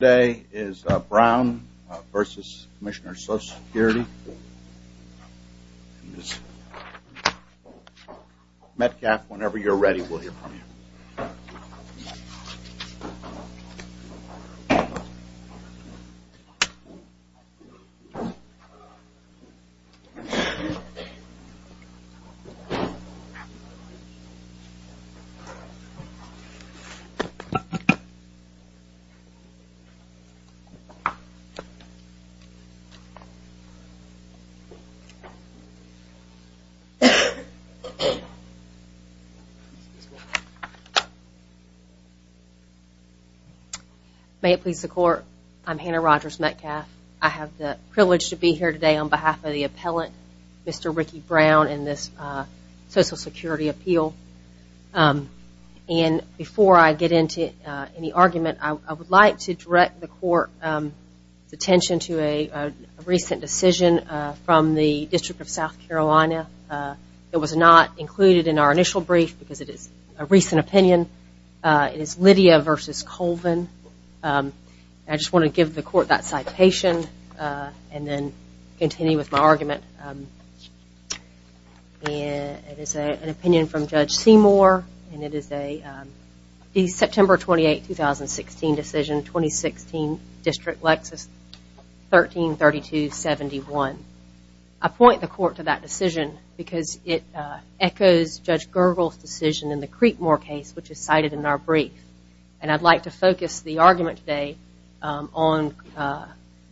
Today is Brown v. Commissioner Social Security and Ms. Metcalfe, whenever you're ready, we will hear from you. May it please the court, I'm Hannah Rogers Metcalfe. I have the privilege to be here today on behalf of the appellant, Mr. Ricky Brown, in this Social Security appeal. And before I get into any argument, I would like to direct the court's attention to a recent decision from the District of South Carolina. It was not included in our initial brief because it is a recent opinion. It is Lydia v. Colvin. I just want to give the court that citation and then continue with my argument. It is an opinion from Judge Seymour and it is a September 28, 2016 decision, 2016, District Lexis 13-32-71. I point the court to that decision because it echoes Judge Gergel's decision in the Creekmore case, which is cited in our brief. And I'd like to focus the argument today on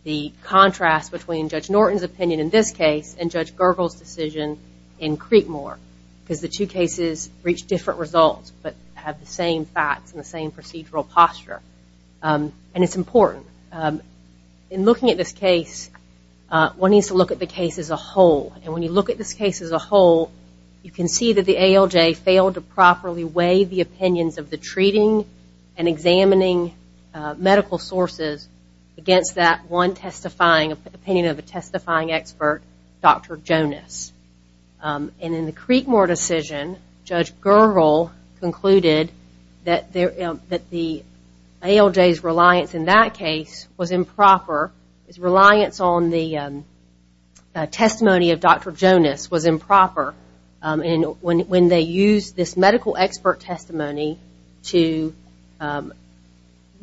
the contrast between Judge Norton's opinion in this case and Judge Gergel's decision in Creekmore. Because the two cases reach different results but have the same facts and the same procedural posture. And it's important. In looking at this case, one needs to look at the case as a whole. And when you look at this case as a whole, you can see that the ALJ failed to properly weigh the opinions of the treating and examining medical sources against that one opinion of a testifying expert, Dr. Jonas. And in the Creekmore decision, Judge Gergel concluded that the ALJ's reliance in that case was improper. His reliance on the testimony of Dr. Jonas was improper. And when they used this medical expert testimony to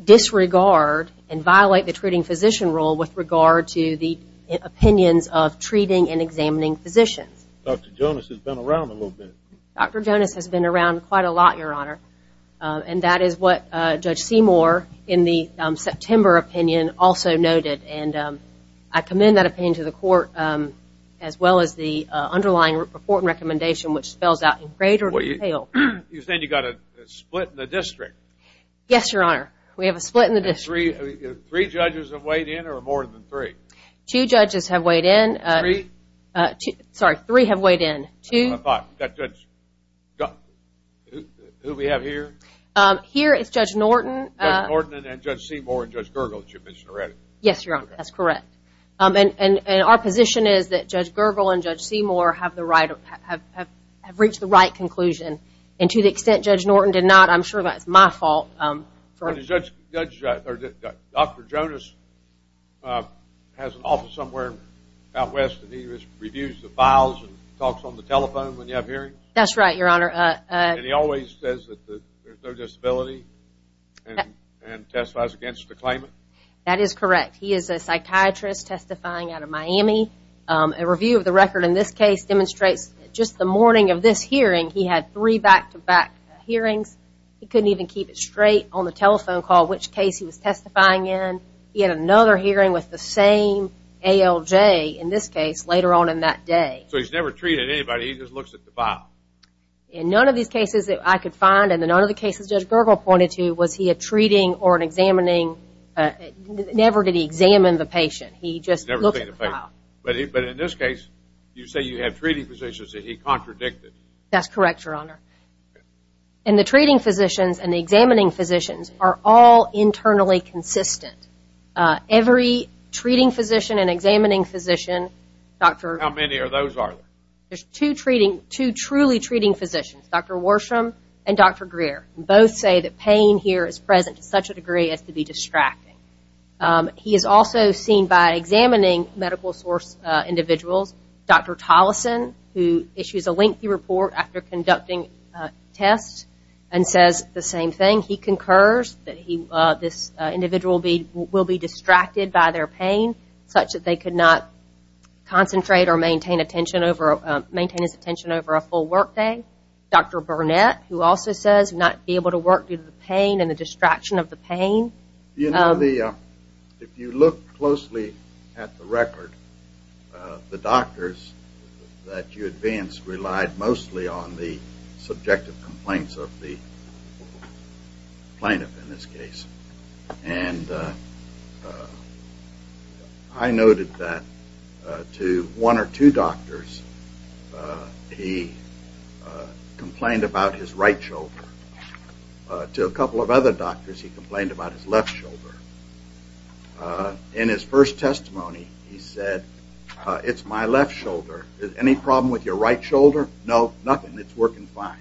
disregard and violate the treating physician role with regard to the opinions of treating and examining physicians. Dr. Jonas has been around a little bit. Dr. Jonas has been around quite a lot, Your Honor. And that is what Judge Seymour in the September opinion also noted. And I commend that opinion to the court as well as the underlying report and recommendation, which spells out in greater detail. You said you got a split in the district. Yes, Your Honor. We have a split in the district. Three judges have weighed in or more than three? Two judges have weighed in. Three? Sorry, three have weighed in. Who do we have here? Here is Judge Norton. Judge Norton and Judge Seymour and Judge Gergel that you mentioned already. Yes, Your Honor. That's correct. And our position is that Judge Gergel and Judge Seymour have reached the right conclusion. And to the extent Judge Norton did not, I'm sure that's my fault. Dr. Jonas has an office somewhere out west and he reviews the files and talks on the telephone when you have hearings? That's right, Your Honor. And he always says that there's no disability and testifies against the claimant? That is correct. He is a psychiatrist testifying out of Miami. A review of the record in this case demonstrates just the morning of this hearing he had three back-to-back hearings. He couldn't even keep it straight on the telephone call which case he was testifying in. He had another hearing with the same ALJ in this case later on in that day. So he's never treated anybody, he just looks at the file? In none of these cases that I could find and in none of the cases Judge Gergel pointed to was he a treating or an examining. Never did he examine the patient, he just looked at the file. But in this case, you say you have treating physicians that he contradicted? That's correct, Your Honor. And the treating physicians and the examining physicians are all internally consistent. Every treating physician and examining physician, Dr. How many of those are there? There's two truly treating physicians, Dr. Worsham and Dr. Greer. Both say that pain here is present to such a degree as to be distracting. He is also seen by examining medical source individuals, Dr. Tolleson, who issues a lengthy report after conducting tests and says the same thing. He concurs that this individual will be distracted by their pain such that they could not concentrate or maintain his attention over a full workday. Dr. Burnett, who also says not be able to work due to the pain and the distraction of the pain. You know, if you look closely at the record, the doctors that you advanced relied mostly on the subjective complaints of the plaintiff in this case. And I noted that to one or two doctors he complained about his right shoulder. To a couple of other doctors he complained about his left shoulder. In his first testimony, he said, it's my left shoulder. Any problem with your right shoulder? No, nothing. It's working fine.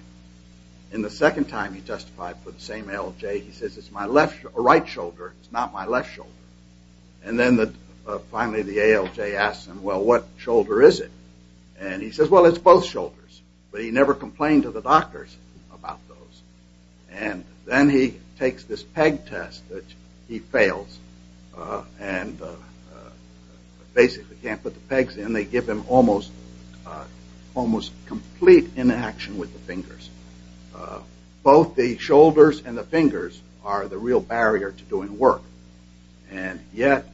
And the second time he testified for the same ALJ, he says, it's my right shoulder. It's not my left shoulder. And then finally the ALJ asks him, well, what shoulder is it? And he says, well, it's both shoulders. But he never complained to the doctors about those. And then he takes this peg test that he fails and basically can't put the pegs in. They give him almost complete inaction with the fingers. Both the shoulders and the fingers are the real barrier to doing work. And yet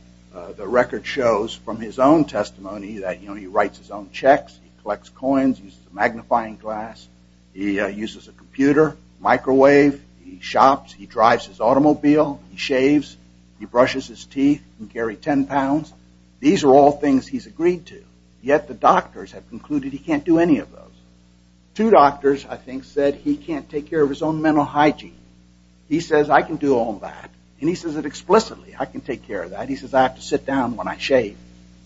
the record shows from his own testimony that, you know, he writes his own checks, he collects coins, uses a magnifying glass, he uses a computer, microwave, he shops, he drives his automobile, he shaves, he brushes his teeth and can carry 10 pounds. These are all things he's agreed to. Yet the doctors have concluded he can't do any of those. Two doctors, I think, said he can't take care of his own mental hygiene. He says, I can do all that. And he says it explicitly, I can take care of that. He says, I have to sit down when I shave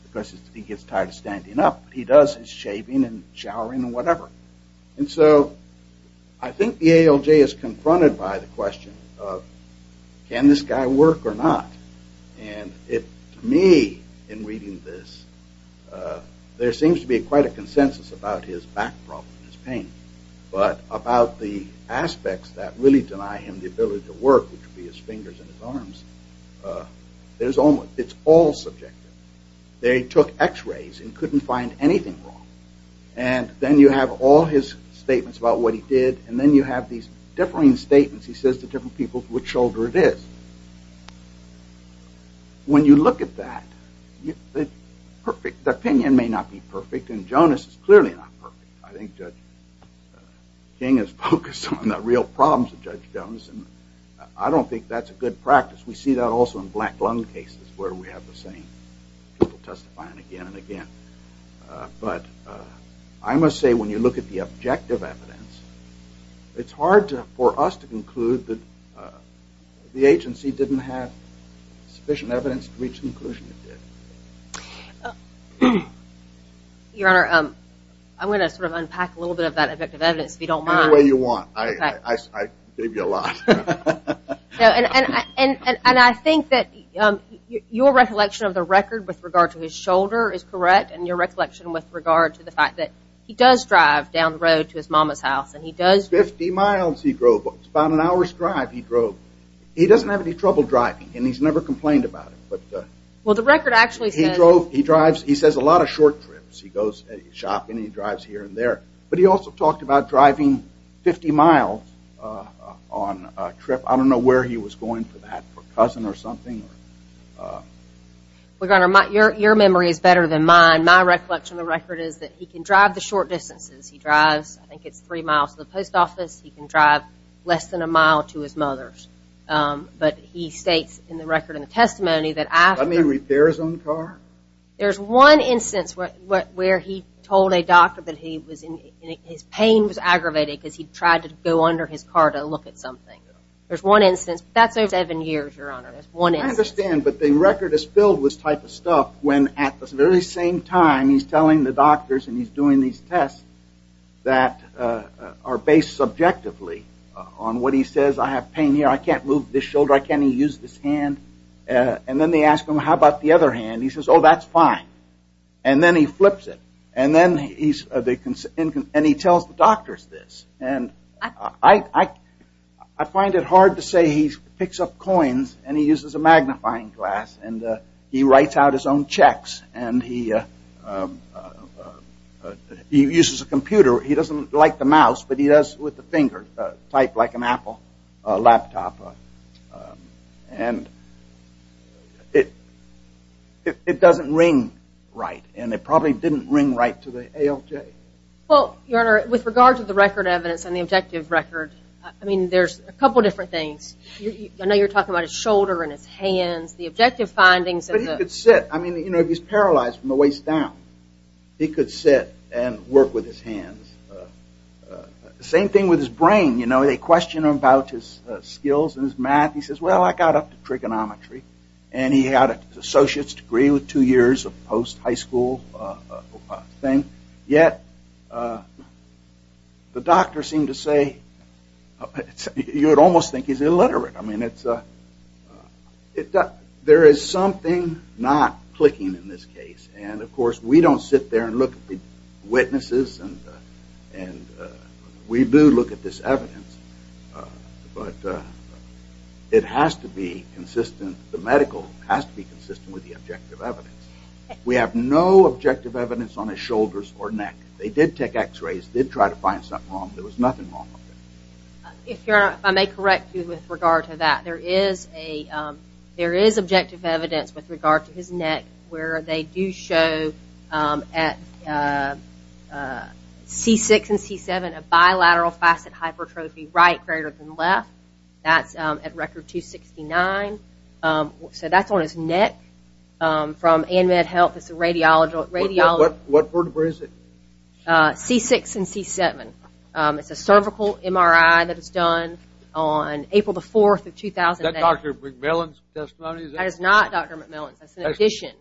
because he gets tired of standing up. He does his shaving and showering and whatever. And so I think the ALJ is confronted by the question of can this guy work or not? And to me, in reading this, there seems to be quite a consensus about his back problem, his pain. But about the aspects that really deny him the ability to work, which would be his fingers and his arms, it's all subjective. They took x-rays and couldn't find anything wrong. And then you have all his statements about what he did and then you have these differing statements, he says to different people, which shoulder it is. When you look at that, the opinion may not be perfect and Jonas is clearly not perfect. I think Judge King is focused on the real problems of Judge Jonas and I don't think that's a good practice. We see that also in black lung cases where we have the same people testifying again and again. But I must say when you look at the objective evidence, it's hard for us to conclude that the agency didn't have sufficient evidence to reach the conclusion it did. Your Honor, I'm going to sort of unpack a little bit of that objective evidence if you don't mind. Any way you want. I gave you a lot. And I think that your recollection of the record with regard to his shoulder is correct and your recollection with regard to the fact that he does drive down the road to his mama's house. 50 miles he drove. It's about an hour's drive he drove. He doesn't have any trouble driving and he's never complained about it. Well, the record actually says... He says a lot of short trips. He goes shopping and he drives here and there. But he also talked about driving 50 miles on a trip. I don't know where he was going for that. For a cousin or something? Your memory is better than mine. My recollection of the record is that he can drive the short distances. He drives, I think it's three miles to the post office. He can drive less than a mile to his mother's. But he states in the record in the testimony that after... Does that mean repairs on the car? There's one instance where he told a doctor that his pain was aggravated because he tried to go under his car to look at something. There's one instance. That's over seven years, Your Honor. I understand, but the record is filled with this type of stuff when at the very same time he's telling the doctors and he's doing these tests that are based subjectively on what he says. I have pain here. I can't move this shoulder. I can't even use this hand. Then they ask him, how about the other hand? He says, oh, that's fine. Then he flips it. Then he tells the doctors this. I find it hard to say he picks up coins and he uses a magnifying glass and he writes out his own checks and he uses a computer. He doesn't like the mouse, but he does with the finger. Type like an Apple laptop. And it doesn't ring right, and it probably didn't ring right to the ALJ. Well, Your Honor, with regard to the record evidence and the objective record, I mean, there's a couple different things. I know you're talking about his shoulder and his hands, the objective findings. But he could sit. I mean, you know, if he's paralyzed from the waist down, he could sit and work with his hands. Same thing with his brain. You know, they question him about his skills and his math. He says, well, I got up to trigonometry. And he had an associate's degree with two years of post-high school thing. Yet the doctor seemed to say you would almost think he's illiterate. I mean, there is something not clicking in this case. And, of course, we don't sit there and look at the witnesses. And we do look at this evidence. But it has to be consistent. The medical has to be consistent with the objective evidence. We have no objective evidence on his shoulders or neck. They did take x-rays, did try to find something wrong. There was nothing wrong with it. If Your Honor, if I may correct you with regard to that, there is objective evidence with regard to his neck where they do show at C6 and C7 a bilateral facet hypertrophy, right greater than left. That's at record 269. So that's on his neck. From AMED Health, it's a radiology. What vertebrae is it? C6 and C7. It's a cervical MRI that was done on April the 4th of 2008. Is that Dr. McMillan's testimony? That is not Dr. McMillan's. That's an addition.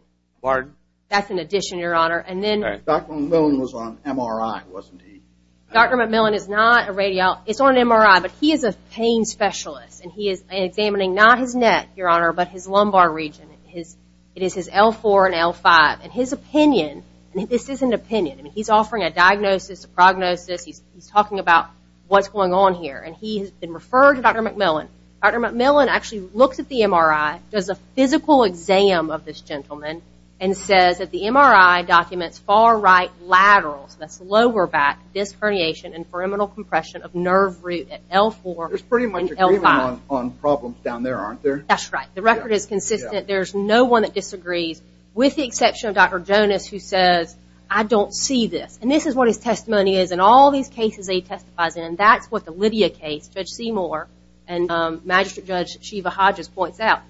Pardon? That's an addition, Your Honor. Dr. McMillan was on MRI, wasn't he? Dr. McMillan is not a radiologist. It's on an MRI. But he is a pain specialist. And he is examining not his neck, Your Honor, but his lumbar region. It is his L4 and L5. And his opinion, and this is an opinion. He's offering a diagnosis, a prognosis. He's talking about what's going on here. And he has been referred to Dr. McMillan. Dr. McMillan actually looks at the MRI, does a physical exam of this gentleman, and says that the MRI documents far right laterals, that's lower back, disc herniation, and pyramidal compression of nerve root at L4 and L5. There's pretty much agreement on problems down there, aren't there? That's right. The record is consistent. There's no one that disagrees, with the exception of Dr. Jonas, who says, I don't see this. And this is what his testimony is, and all these cases he testifies in, and that's what the Lydia case, Judge Seymour, and Magistrate Judge Shiva Hodges points out.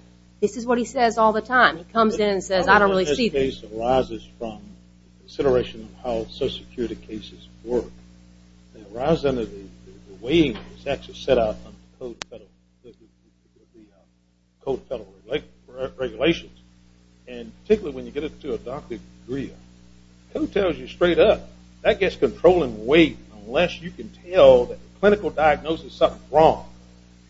This is what he says all the time. He comes in and says, I don't really see this. This case arises from consideration of how social security cases work. It arises under the way it's actually set up under the Code of Federal Regulations. And particularly when you get it to a doctorate degree, who tells you straight up, that gets controlling weight, unless you can tell that the clinical diagnosis is something wrong.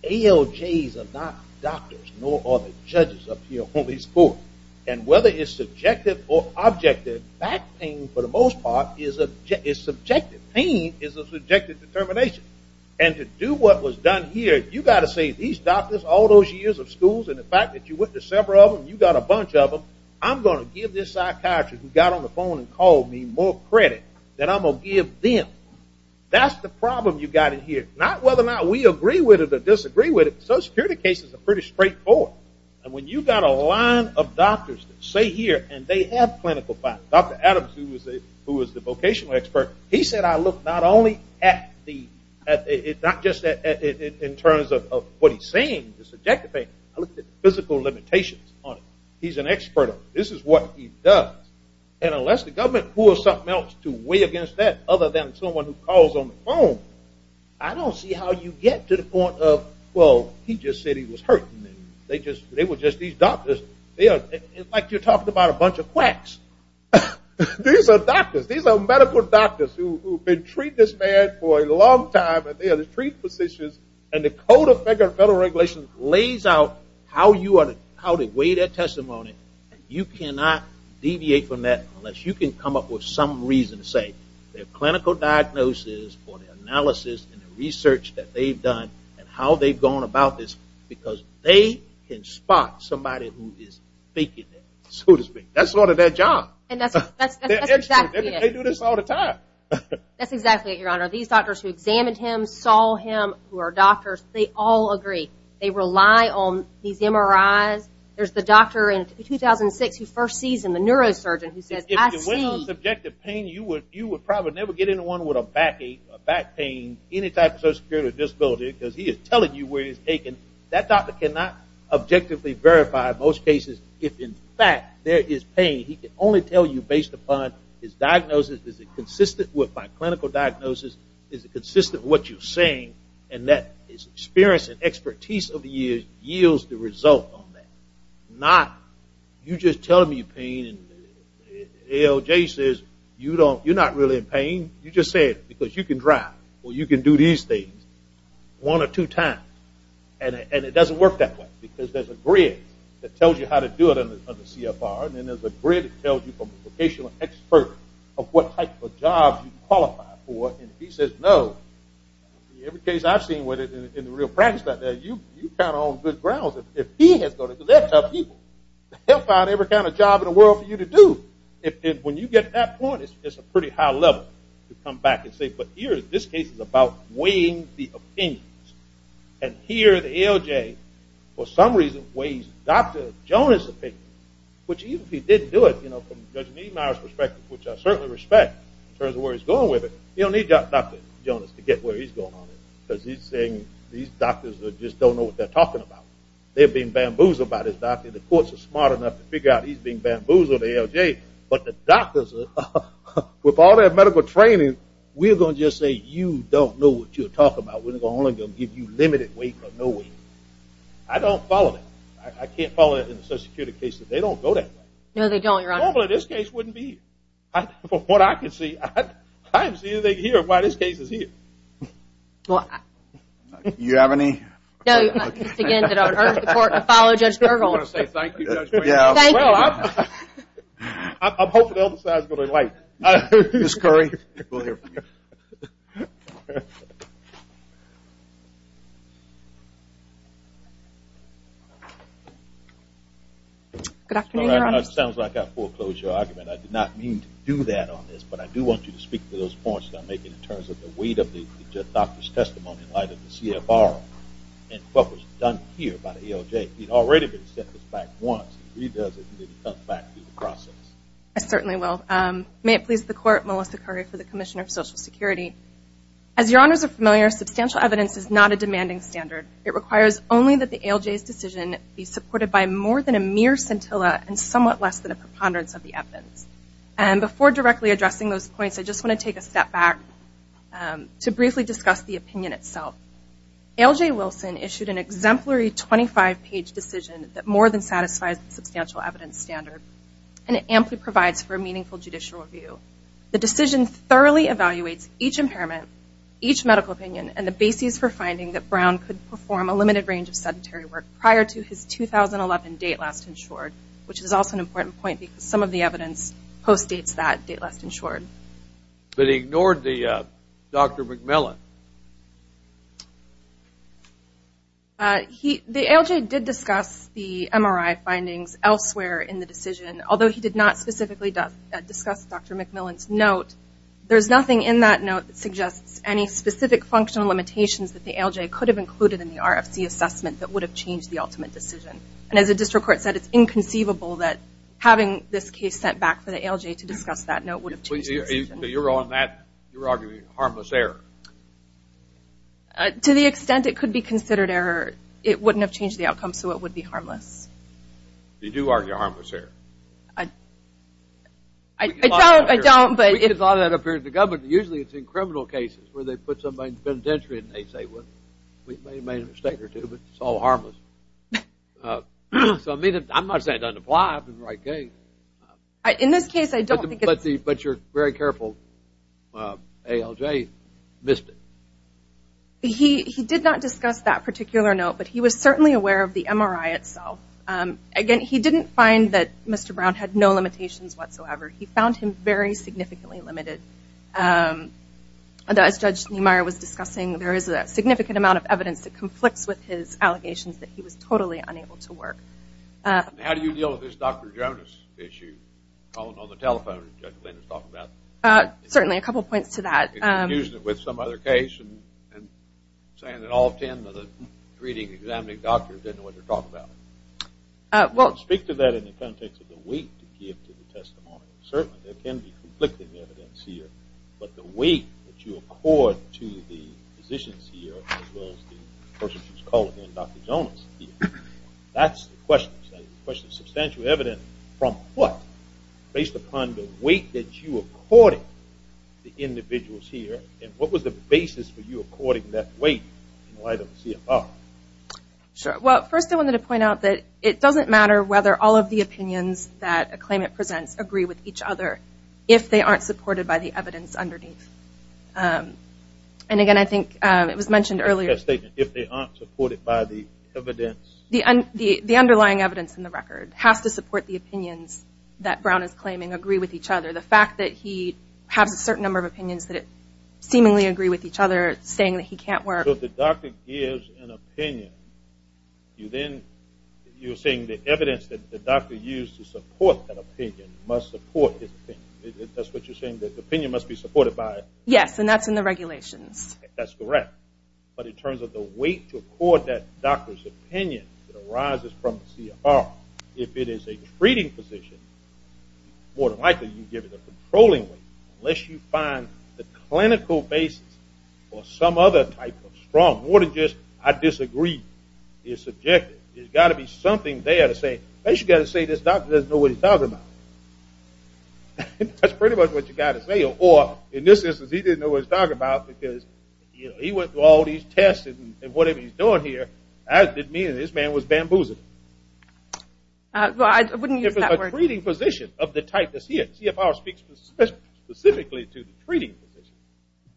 ALJs are not doctors, nor are the judges up here on these courts. And whether it's subjective or objective, back pain, for the most part, is subjective. Pain is a subjective determination. And to do what was done here, you've got to say, these doctors all those years of schools, and the fact that you went to several of them and you got a bunch of them, I'm going to give this psychiatrist who got on the phone and called me more credit than I'm going to give them. That's the problem you've got in here. Not whether or not we agree with it or disagree with it, social security cases are pretty straightforward. And when you've got a line of doctors that say here, and they have clinical facts, Dr. Adams, who was the vocational expert, he said I looked not only at the, not just in terms of what he's saying, the subjective pain, I looked at physical limitations on it. He's an expert. This is what he does. And unless the government pulls something else to weigh against that, other than someone who calls on the phone, I don't see how you get to the point of, well, he just said he was hurting me. They were just these doctors. It's like you're talking about a bunch of quacks. These are doctors. These are medical doctors who have been treating this man for a long time, and they are the treat physicians, and the Code of Federal Regulations lays out how to weigh that testimony. You cannot deviate from that unless you can come up with some reason to say their clinical diagnosis or analysis and the research that they've done and how they've gone about this, because they can spot somebody who is faking it, so to speak. That's part of their job. That's exactly it. They do this all the time. That's exactly it, Your Honor. These doctors who examined him, saw him, who are doctors, they all agree. They rely on these MRIs. There's the doctor in 2006 who first sees him, the neurosurgeon, who says, I see. If it wasn't subjective pain, you would probably never get into one with a back pain, any type of social security disability, because he is telling you where he's taken. That doctor cannot objectively verify most cases if, in fact, there is pain. He can only tell you based upon his diagnosis. Is it consistent with my clinical diagnosis? Is it consistent with what you're saying? And that experience and expertise of the year yields the result on that, not you just telling me pain and ALJ says you're not really in pain. You just say it because you can drive or you can do these things one or two times. And it doesn't work that way, because there's a grid that tells you how to do it under CFR, and there's a grid that tells you from a vocational expert of what type of job you qualify for, and if he says no, in every case I've seen in the real practice out there, you're kind of on good grounds. If he has gone to that type of people, they'll find every kind of job in the world for you to do. When you get to that point, it's a pretty high level to come back and say, but this case is about weighing the opinions, and here the ALJ for some reason weighs Dr. Jones' opinion, which even if he didn't do it from Judge Meadmire's perspective, which I certainly respect in terms of where he's going with it, you don't need Dr. Jones to get where he's going on it, because he's saying these doctors just don't know what they're talking about. They're being bamboozled by this doctor. The courts are smart enough to figure out he's being bamboozled by ALJ, but the doctors, with all their medical training, we're going to just say you don't know what you're talking about. We're only going to give you limited weight or no weight. I don't follow that. I can't follow it in the social security case. They don't go that way. No, they don't, Your Honor. Normally this case wouldn't be here. From what I can see, I haven't seen anything here while this case is here. Do you have any? Again, I urge the court to follow Judge Bergo's. I just want to say thank you, Judge Meadmire. Thank you. I'm hoping they'll decide to go to light. Ms. Curry, we'll hear from you. Good afternoon, Your Honor. It sounds like I foreclosed your argument. I did not mean to do that on this, but I do want you to speak to those points that I'm making in terms of the weight of the doctor's testimony in light of the CFR and what was done here by the ALJ. He'd already been sent this back once. If he does it, he needs to come back and do the process. I certainly will. May it please the Court, Melissa Curry for the Commissioner of Social Security. As Your Honors are familiar, substantial evidence is not a demanding standard. It requires only that the ALJ's decision be supported by more than a mere scintilla and somewhat less than a preponderance of the evidence. Before directly addressing those points, I just want to take a step back to briefly discuss the opinion itself. ALJ Wilson issued an exemplary 25-page decision that more than satisfies the substantial evidence standard, and it amply provides for a meaningful judicial review. The decision thoroughly evaluates each impairment, each medical opinion, and the basis for finding that Brown could perform a limited range of sedentary work prior to his 2011 date last insured, which is also an important point because some of the evidence post-dates that date last insured. But he ignored Dr. McMillan. The ALJ did discuss the MRI findings elsewhere in the decision, There's nothing in that note that suggests any specific functional limitations that the ALJ could have included in the RFC assessment that would have changed the ultimate decision. And as the district court said, it's inconceivable that having this case sent back for the ALJ to discuss that note would have changed the decision. So you're arguing harmless error? To the extent it could be considered error, it wouldn't have changed the outcome, so it would be harmless. You do argue harmless error? I don't. We get a lot of that up here at the government. Usually it's in criminal cases where they put somebody in penitentiary and they say, well, we may have made a mistake or two, but it's all harmless. So I mean, I'm not saying it doesn't apply. In this case, I don't think it's. But you're very careful. ALJ missed it. He did not discuss that particular note, but he was certainly aware of the MRI itself. Again, he didn't find that Mr. Brown had no limitations whatsoever. He found him very significantly limited. As Judge Niemeyer was discussing, there is a significant amount of evidence that conflicts with his allegations that he was totally unable to work. How do you deal with this Dr. Jonas issue? Calling on the telephone, as Judge Lin has talked about. Certainly, a couple of points to that. Introducing it with some other case and saying that all ten of the reading, examining doctors didn't know what they're talking about. Well, speak to that in the context of the weight to give to the testimony. Certainly, there can be conflicting evidence here, but the weight that you accord to the physicians here, as well as the person who's calling in, Dr. Jonas, that's the question. The question is substantial evidence from what, based upon the weight that you accorded the individuals here, and what was the basis for you according that weight in light of CFR? Sure. Well, first I wanted to point out that it doesn't matter whether all of the opinions that a claimant presents agree with each other if they aren't supported by the evidence underneath. And again, I think it was mentioned earlier. If they aren't supported by the evidence? The underlying evidence in the record has to support the opinions that Brown is claiming agree with each other. The fact that he has a certain number of opinions that seemingly agree with each other, saying that he can't work. So if the doctor gives an opinion, you're saying the evidence that the doctor used to support that opinion must support his opinion. That's what you're saying, that the opinion must be supported by it? Yes, and that's in the regulations. That's correct. But in terms of the weight to accord that doctor's opinion that arises from the CFR, if it is a treating position, more than likely you give it a controlling weight unless you find the clinical basis for some other type of strong. More than just I disagree is subjective. There's got to be something there to say, you've got to say this doctor doesn't know what he's talking about. That's pretty much what you've got to say. Or in this instance, he didn't know what he was talking about because he went through all these tests and whatever he's doing here, that didn't mean that this man was bamboozling. I wouldn't use that word. If it's a treating position of the type that CFR speaks specifically to, the treating position.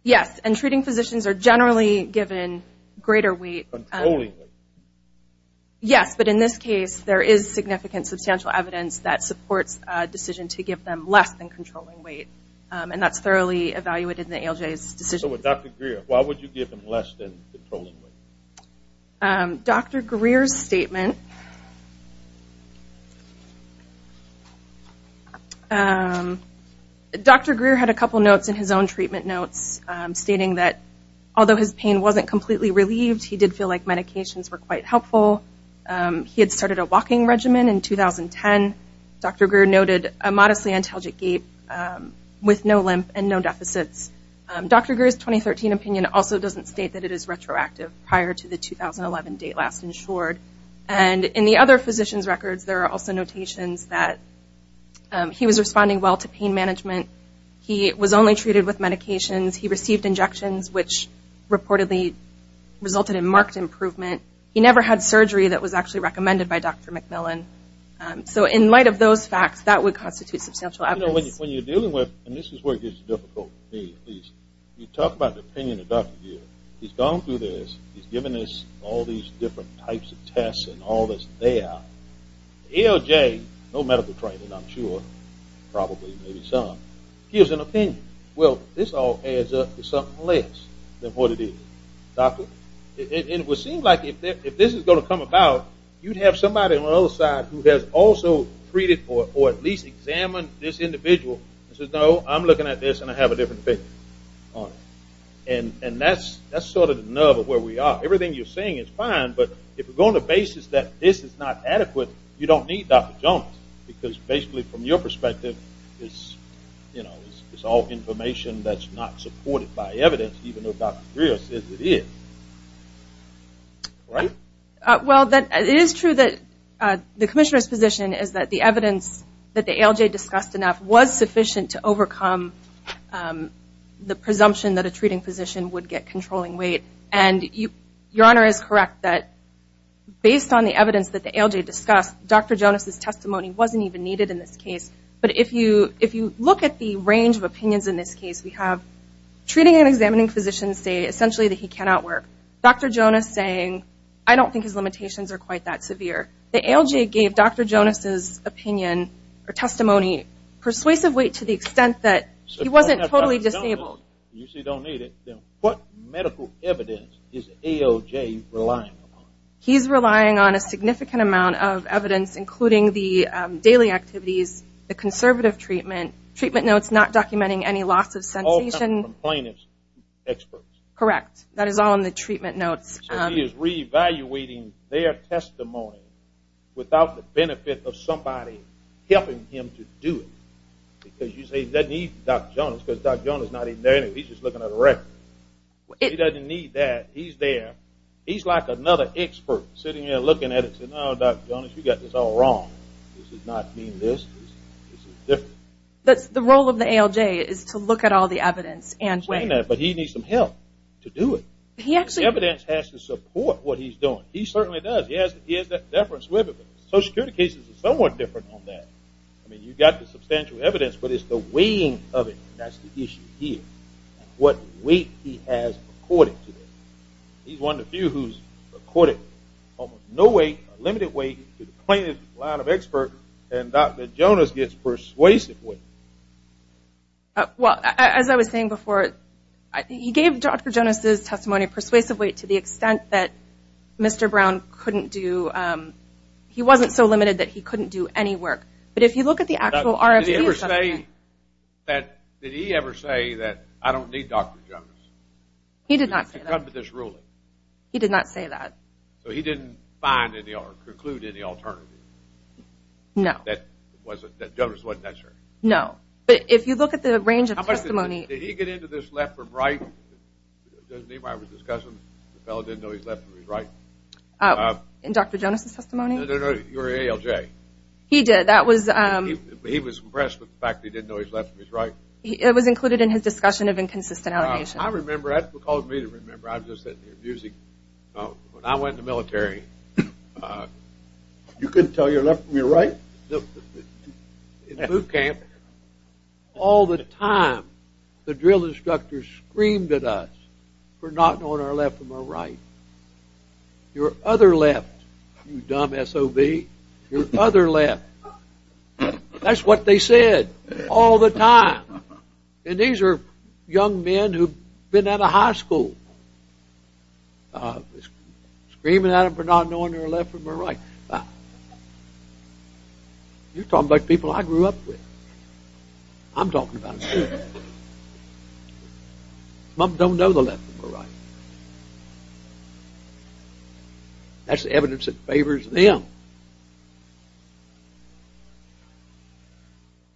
Yes, and treating positions are generally given greater weight. Controlling weight. Yes, but in this case, there is significant substantial evidence that supports a decision to give them less than controlling weight, and that's thoroughly evaluated in the ALJ's decision. So with Dr. Greer, why would you give him less than controlling weight? Dr. Greer's statement. Dr. Greer had a couple notes in his own treatment notes stating that although his pain wasn't completely relieved, he did feel like medications were quite helpful. He had started a walking regimen in 2010. Dr. Greer noted a modestly antalgic gape with no limp and no deficits. Dr. Greer's 2013 opinion also doesn't state that it is retroactive prior to the 2011 date last insured. And in the other physician's records, there are also notations that he was responding well to pain management. He was only treated with medications. He received injections, which reportedly resulted in marked improvement. He never had surgery that was actually recommended by Dr. McMillan. So in light of those facts, that would constitute substantial evidence. You know, when you're dealing with, and this is where it gets difficult for me at least, you talk about the opinion of Dr. Greer. He's gone through this. He's given us all these different types of tests and all that's there. ALJ, no medical training I'm sure, probably maybe some, gives an opinion. Well, this all adds up to something less than what it is. Doctor, it would seem like if this is going to come about, you'd have somebody on the other side who has also treated or at least examined this individual and says, no, I'm looking at this and I have a different opinion on it. And that's sort of the nerve of where we are. Everything you're saying is fine, but if we're going to basis that this is not adequate, you don't need Dr. Jones because basically from your perspective, it's all information that's not supported by evidence even though Dr. Greer says it is. Right? that the ALJ discussed enough was sufficient to overcome the presumption that a treating physician would get controlling weight. And Your Honor is correct that based on the evidence that the ALJ discussed, Dr. Jones' testimony wasn't even needed in this case. But if you look at the range of opinions in this case, we have treating and examining physicians say essentially that he cannot work. Dr. Jones saying, I don't think his limitations are quite that severe. The ALJ gave Dr. Jones' opinion or testimony persuasive weight to the extent that he wasn't totally disabled. What medical evidence is ALJ relying on? He's relying on a significant amount of evidence including the daily activities, the conservative treatment, treatment notes not documenting any loss of sensation. All from plaintiff's experts. Correct. That is all in the treatment notes. So he is reevaluating their testimony without the benefit of somebody helping him to do it. Because you say he doesn't need Dr. Jones because Dr. Jones is not even there. He's just looking at a record. He doesn't need that. He's there. He's like another expert sitting there looking at it saying, oh, Dr. Jones, you've got this all wrong. This does not mean this. This is different. The role of the ALJ is to look at all the evidence. But he needs some help to do it. Evidence has to support what he's doing. He certainly does. He has that deference with it. Social Security cases are somewhat different on that. I mean, you've got the substantial evidence, but it's the weighing of it, and that's the issue here. What weight he has according to this. He's one of the few who's according to this. No weight, limited weight to the plaintiff's line of experts, and Dr. Jones gets persuasive weight. Well, as I was saying before, he gave Dr. Jones's testimony persuasive weight to the extent that Mr. Brown couldn't do ñ he wasn't so limited that he couldn't do any work. But if you look at the actual RFP. Did he ever say that I don't need Dr. Jones? He did not say that. To come to this ruling. He did not say that. So he didn't find any or preclude any alternative. No. That Jones wasn't that sure? No. But if you look at the range of testimony. Did he get into this left from right? It doesn't mean I was discussing. The fellow didn't know he was left from his right. In Dr. Jones's testimony? No, no, no. You were ALJ. He did. That was. He was impressed with the fact that he didn't know he was left from his right. It was included in his discussion of inconsistent allegations. I remember. That's what caused me to remember. When I went in the military. You couldn't tell you were left from your right? In boot camp. All the time. The drill instructors screamed at us. For not knowing our left from our right. Your other left. You dumb SOB. Your other left. That's what they said. All the time. And these are young men who have been out of high school. Screaming at them for not knowing their left from their right. You're talking about people I grew up with. I'm talking about them. Some of them don't know their left from their right. That's the evidence that favors them.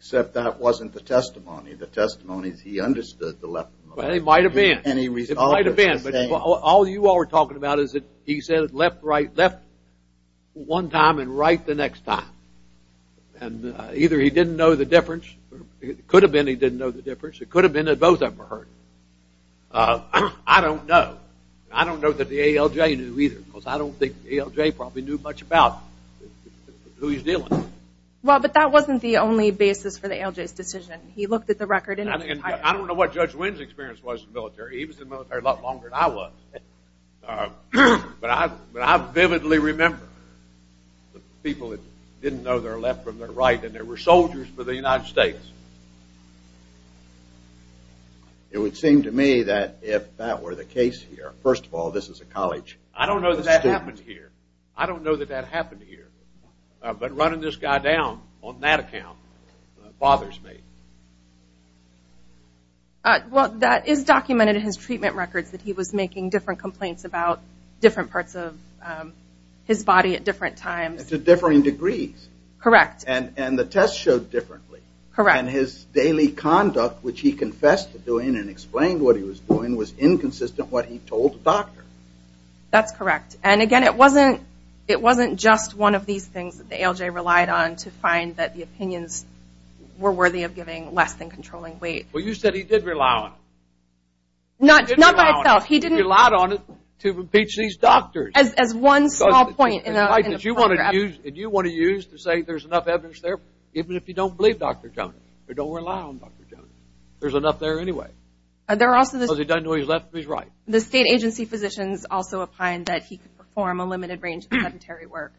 Except that wasn't the testimony. The testimony is he understood the left from the right. It might have been. It might have been. All you all are talking about is he said left, right, left one time and right the next time. And either he didn't know the difference. It could have been he didn't know the difference. It could have been that both of them were hurt. I don't know. I don't know that the ALJ knew either. Because I don't think the ALJ probably knew much about who he was dealing with. Well, but that wasn't the only basis for the ALJ's decision. He looked at the record. I don't know what Judge Wynn's experience was in the military. He was in the military a lot longer than I was. But I vividly remember the people that didn't know their left from their right and they were soldiers for the United States. It would seem to me that if that were the case here, first of all, this is a college. I don't know that that happened here. I don't know that that happened here. But running this guy down on that account bothers me. Well, that is documented in his treatment records, that he was making different complaints about different parts of his body at different times. To differing degrees. Correct. And the tests showed differently. Correct. And his daily conduct, which he confessed to doing and explained what he was doing was inconsistent with what he told the doctor. That's correct. And, again, it wasn't just one of these things that the ALJ relied on to find that the opinions were worthy of giving less than controlling weight. Well, you said he did rely on it. Not by itself. He didn't rely on it to impeach these doctors. As one small point in the program. And you want to use to say there's enough evidence there, even if you don't believe Dr. Jones or don't rely on Dr. Jones. There's enough there anyway. Because he doesn't know his left from his right. The state agency physicians also opined that he could perform a limited range of sedentary work.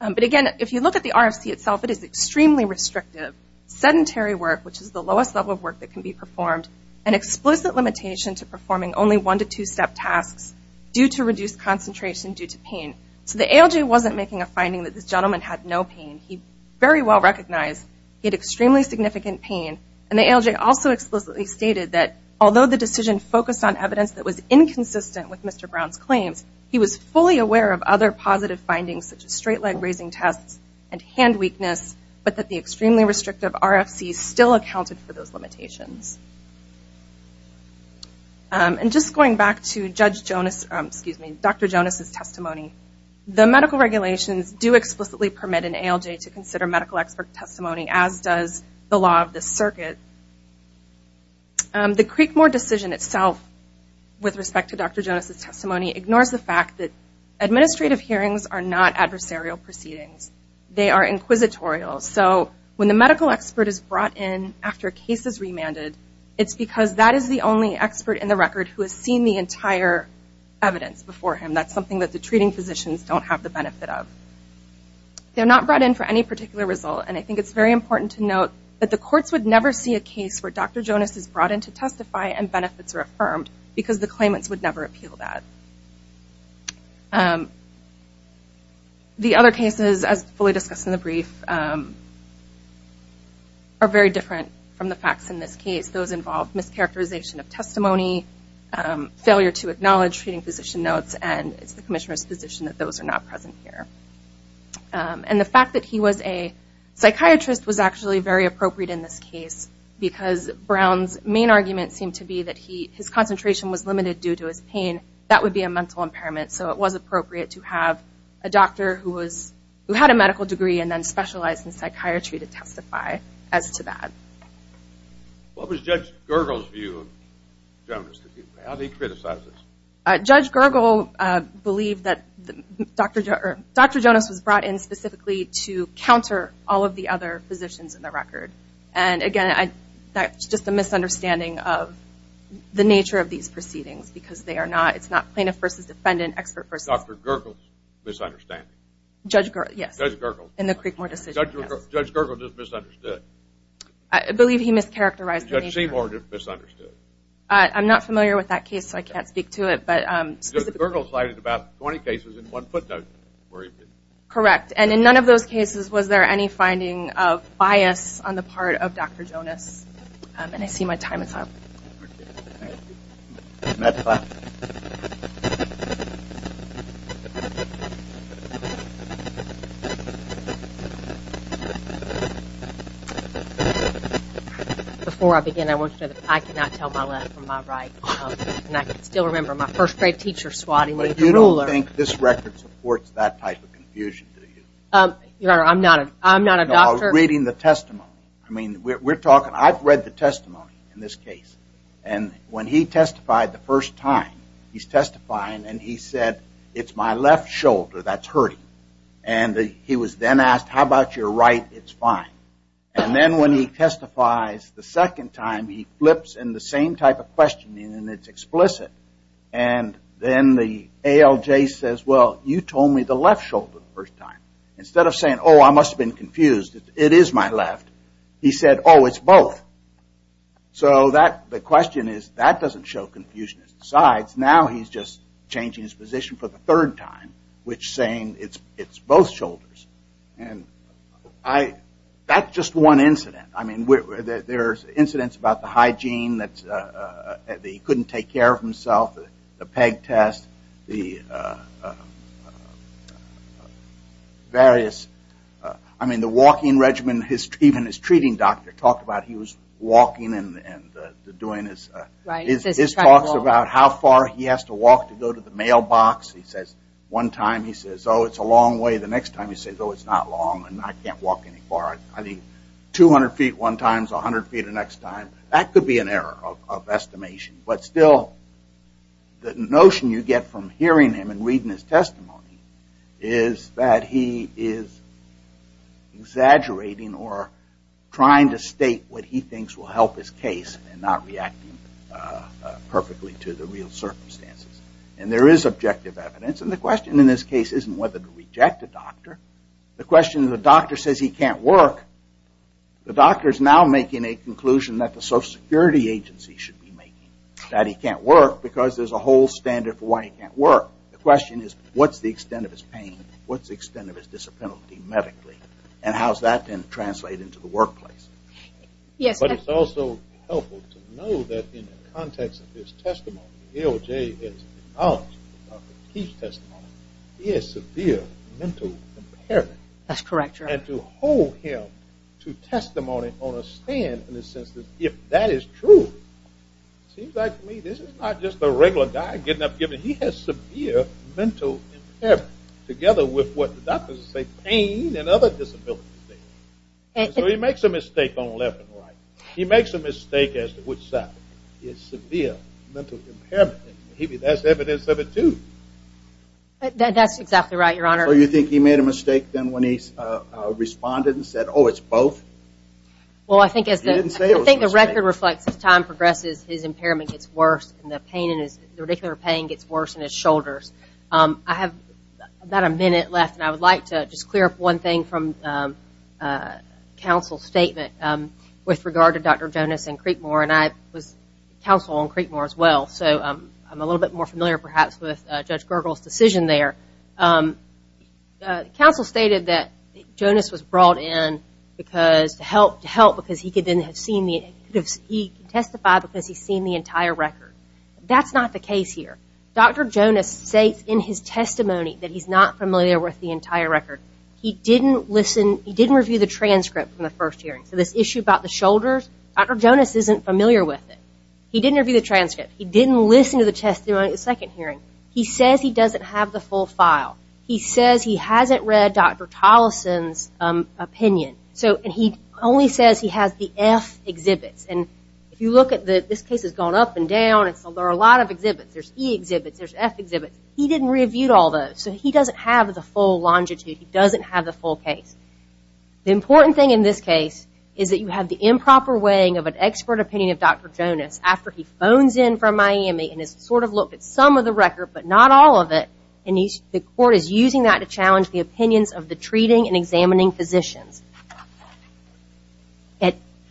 But, again, if you look at the RFC itself, it is extremely restrictive. Sedentary work, which is the lowest level of work that can be performed, an explicit limitation to performing only one to two-step tasks due to reduced concentration due to pain. So the ALJ wasn't making a finding that this gentleman had no pain. He very well recognized he had extremely significant pain. And the ALJ also explicitly stated that, although the decision focused on evidence that was inconsistent with Mr. Brown's claims, he was fully aware of other positive findings, such as straight-leg raising tests and hand weakness, but that the extremely restrictive RFC still accounted for those limitations. And just going back to Judge Jonas, excuse me, Dr. Jonas' testimony, the medical regulations do explicitly permit an ALJ to consider medical expert testimony, as does the law of this circuit. The Creekmore decision itself, with respect to Dr. Jonas' testimony, ignores the fact that administrative hearings are not adversarial proceedings. They are inquisitorial. So when the medical expert is brought in after a case is remanded, it's because that is the only expert in the record who has seen the entire evidence before him. That's something that the treating physicians don't have the benefit of. They're not brought in for any particular result, and I think it's very important to note that the courts would never see a case where Dr. Jonas is brought in to testify and benefits are affirmed, because the claimants would never appeal that. The other cases, as fully discussed in the brief, are very different from the facts in this case. Those involve mischaracterization of testimony, failure to acknowledge treating physician notes, and it's the commissioner's position that those are not present here. And the fact that he was a psychiatrist was actually very appropriate in this case, because Brown's main argument seemed to be that his concentration was limited due to his pain. That would be a mental impairment, so it was appropriate to have a doctor who had a medical degree and then specialized in psychiatry to testify as to that. What was Judge Gergel's view of Jonas? How did he criticize this? Judge Gergel believed that Dr. Jonas was brought in specifically to counter all of the other physicians in the record. And, again, that's just a misunderstanding of the nature of these proceedings, because it's not plaintiff versus defendant, expert versus... Dr. Gergel's misunderstanding. Judge Gergel, yes. Judge Gergel. In the Creekmore decision. Judge Gergel just misunderstood. I believe he mischaracterized the nature of... Judge Seymour just misunderstood. I'm not familiar with that case, so I can't speak to it. Judge Gergel cited about 20 cases in one footnote. Correct. And in none of those cases was there any finding of bias on the part of Dr. Jonas. And I see my time is up. Thank you. Next slide. Before I begin, I want you to know that I cannot tell my left from my right, and I can still remember my first-grade teacher swatting me with a ruler. But you don't think this record supports that type of confusion, do you? Your Honor, I'm not a doctor. No, I was reading the testimony. I've read the testimony in this case. And when he testified the first time, he's testifying and he said, it's my left shoulder that's hurting. And he was then asked, how about your right? It's fine. And then when he testifies the second time, he flips in the same type of question and it's explicit. And then the ALJ says, well, you told me the left shoulder the first time. Instead of saying, oh, I must have been confused. It is my left. He said, oh, it's both. So the question is, that doesn't show confusion. Besides, now he's just changing his position for the third time, which is saying it's both shoulders. And that's just one incident. I mean, there's incidents about the hygiene that he couldn't take care of himself, the PEG test, the various, I mean, the walking regimen. Even his treating doctor talked about he was walking and doing his. This talks about how far he has to walk to go to the mailbox. He says, one time he says, oh, it's a long way. The next time he says, oh, it's not long and I can't walk any farther. I think 200 feet one time, 100 feet the next time. That could be an error of estimation. But still, the notion you get from hearing him and reading his testimony is that he is exaggerating or trying to state what he thinks will help his case and not reacting perfectly to the real circumstances. And there is objective evidence. And the question in this case isn't whether to reject the doctor. The question is the doctor says he can't work. The doctor is now making a conclusion that the social security agency should be making, that he can't work because there's a whole standard for why he can't work. The question is, what's the extent of his pain? What's the extent of his disability medically? And how does that then translate into the workplace? Yes. But it's also helpful to know that in the context of his testimony, he has severe mental impairment. That's correct. And to hold him to testimony on a stand in the sense that if that is true, it seems like to me this is not just a regular guy getting up and giving. He has severe mental impairment together with what the doctors say pain and other disabilities. So he makes a mistake on left and right. He makes a mistake as to which side. He has severe mental impairment. That's evidence of it, too. That's exactly right, Your Honor. So you think he made a mistake then when he responded and said, oh, it's both? Well, I think the record reflects as time progresses, his impairment gets worse, and the pain gets worse in his shoulders. I have about a minute left, and I would like to just clear up one thing from counsel's statement with regard to Dr. Jonas and Creekmore. And I was counsel on Creekmore as well, so I'm a little bit more familiar perhaps with Judge Gergel's decision there. Counsel stated that Jonas was brought in to help because he could then have seen the entire record. That's not the case here. Dr. Jonas states in his testimony that he's not familiar with the entire record. He didn't listen. He didn't review the transcript from the first hearing. So this issue about the shoulders, Dr. Jonas isn't familiar with it. He didn't review the transcript. He didn't listen to the testimony at the second hearing. He says he doesn't have the full file. He says he hasn't read Dr. Tolleson's opinion. And he only says he has the F exhibits. And if you look at this case, it's gone up and down. There are a lot of exhibits. There's E exhibits. There's F exhibits. He didn't review all those. So he doesn't have the full longitude. He doesn't have the full case. The important thing in this case is that you have the improper weighing of an expert opinion of Dr. Jonas after he phones in from Miami and has sort of looked at some of the record but not all of it, and the court is using that to challenge the opinions of the treating and examining physicians.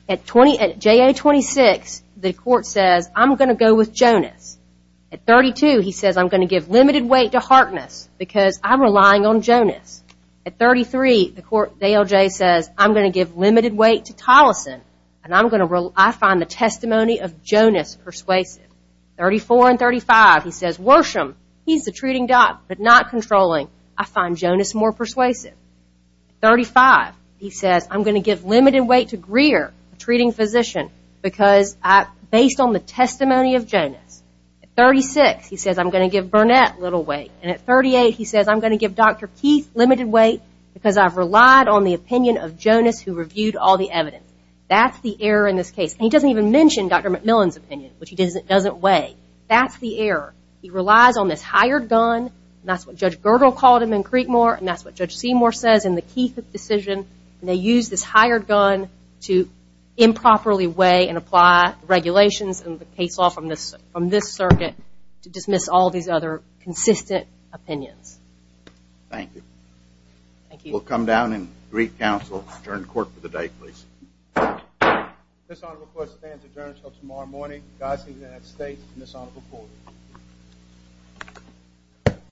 At JA-26, the court says, I'm going to go with Jonas. At 32, he says, I'm going to give limited weight to heartness because I'm relying on Jonas. At 33, the court says, I'm going to give limited weight to Tolleson, and I find the testimony of Jonas persuasive. At 34 and 35, he says, Worsham, he's the treating doc but not controlling. I find Jonas more persuasive. At 35, he says, I'm going to give limited weight to Greer, a treating physician, because based on the testimony of Jonas. At 36, he says, I'm going to give Burnett little weight. And at 38, he says, I'm going to give Dr. Keith limited weight because I've relied on the opinion of Jonas who reviewed all the evidence. That's the error in this case. And he doesn't even mention Dr. McMillan's opinion, which he doesn't weigh. That's the error. He relies on this hired gun, and that's what Judge Girdle called him in Creekmore, and that's what Judge Seymour says in the Keith decision, and they use this hired gun to improperly weigh and apply regulations and the case law from this circuit to dismiss all these other consistent opinions. Thank you. Thank you. We'll come down and brief counsel. Return to court for the day, please. This honorable court stands adjourned until tomorrow morning. Godspeed to the United States and this honorable court.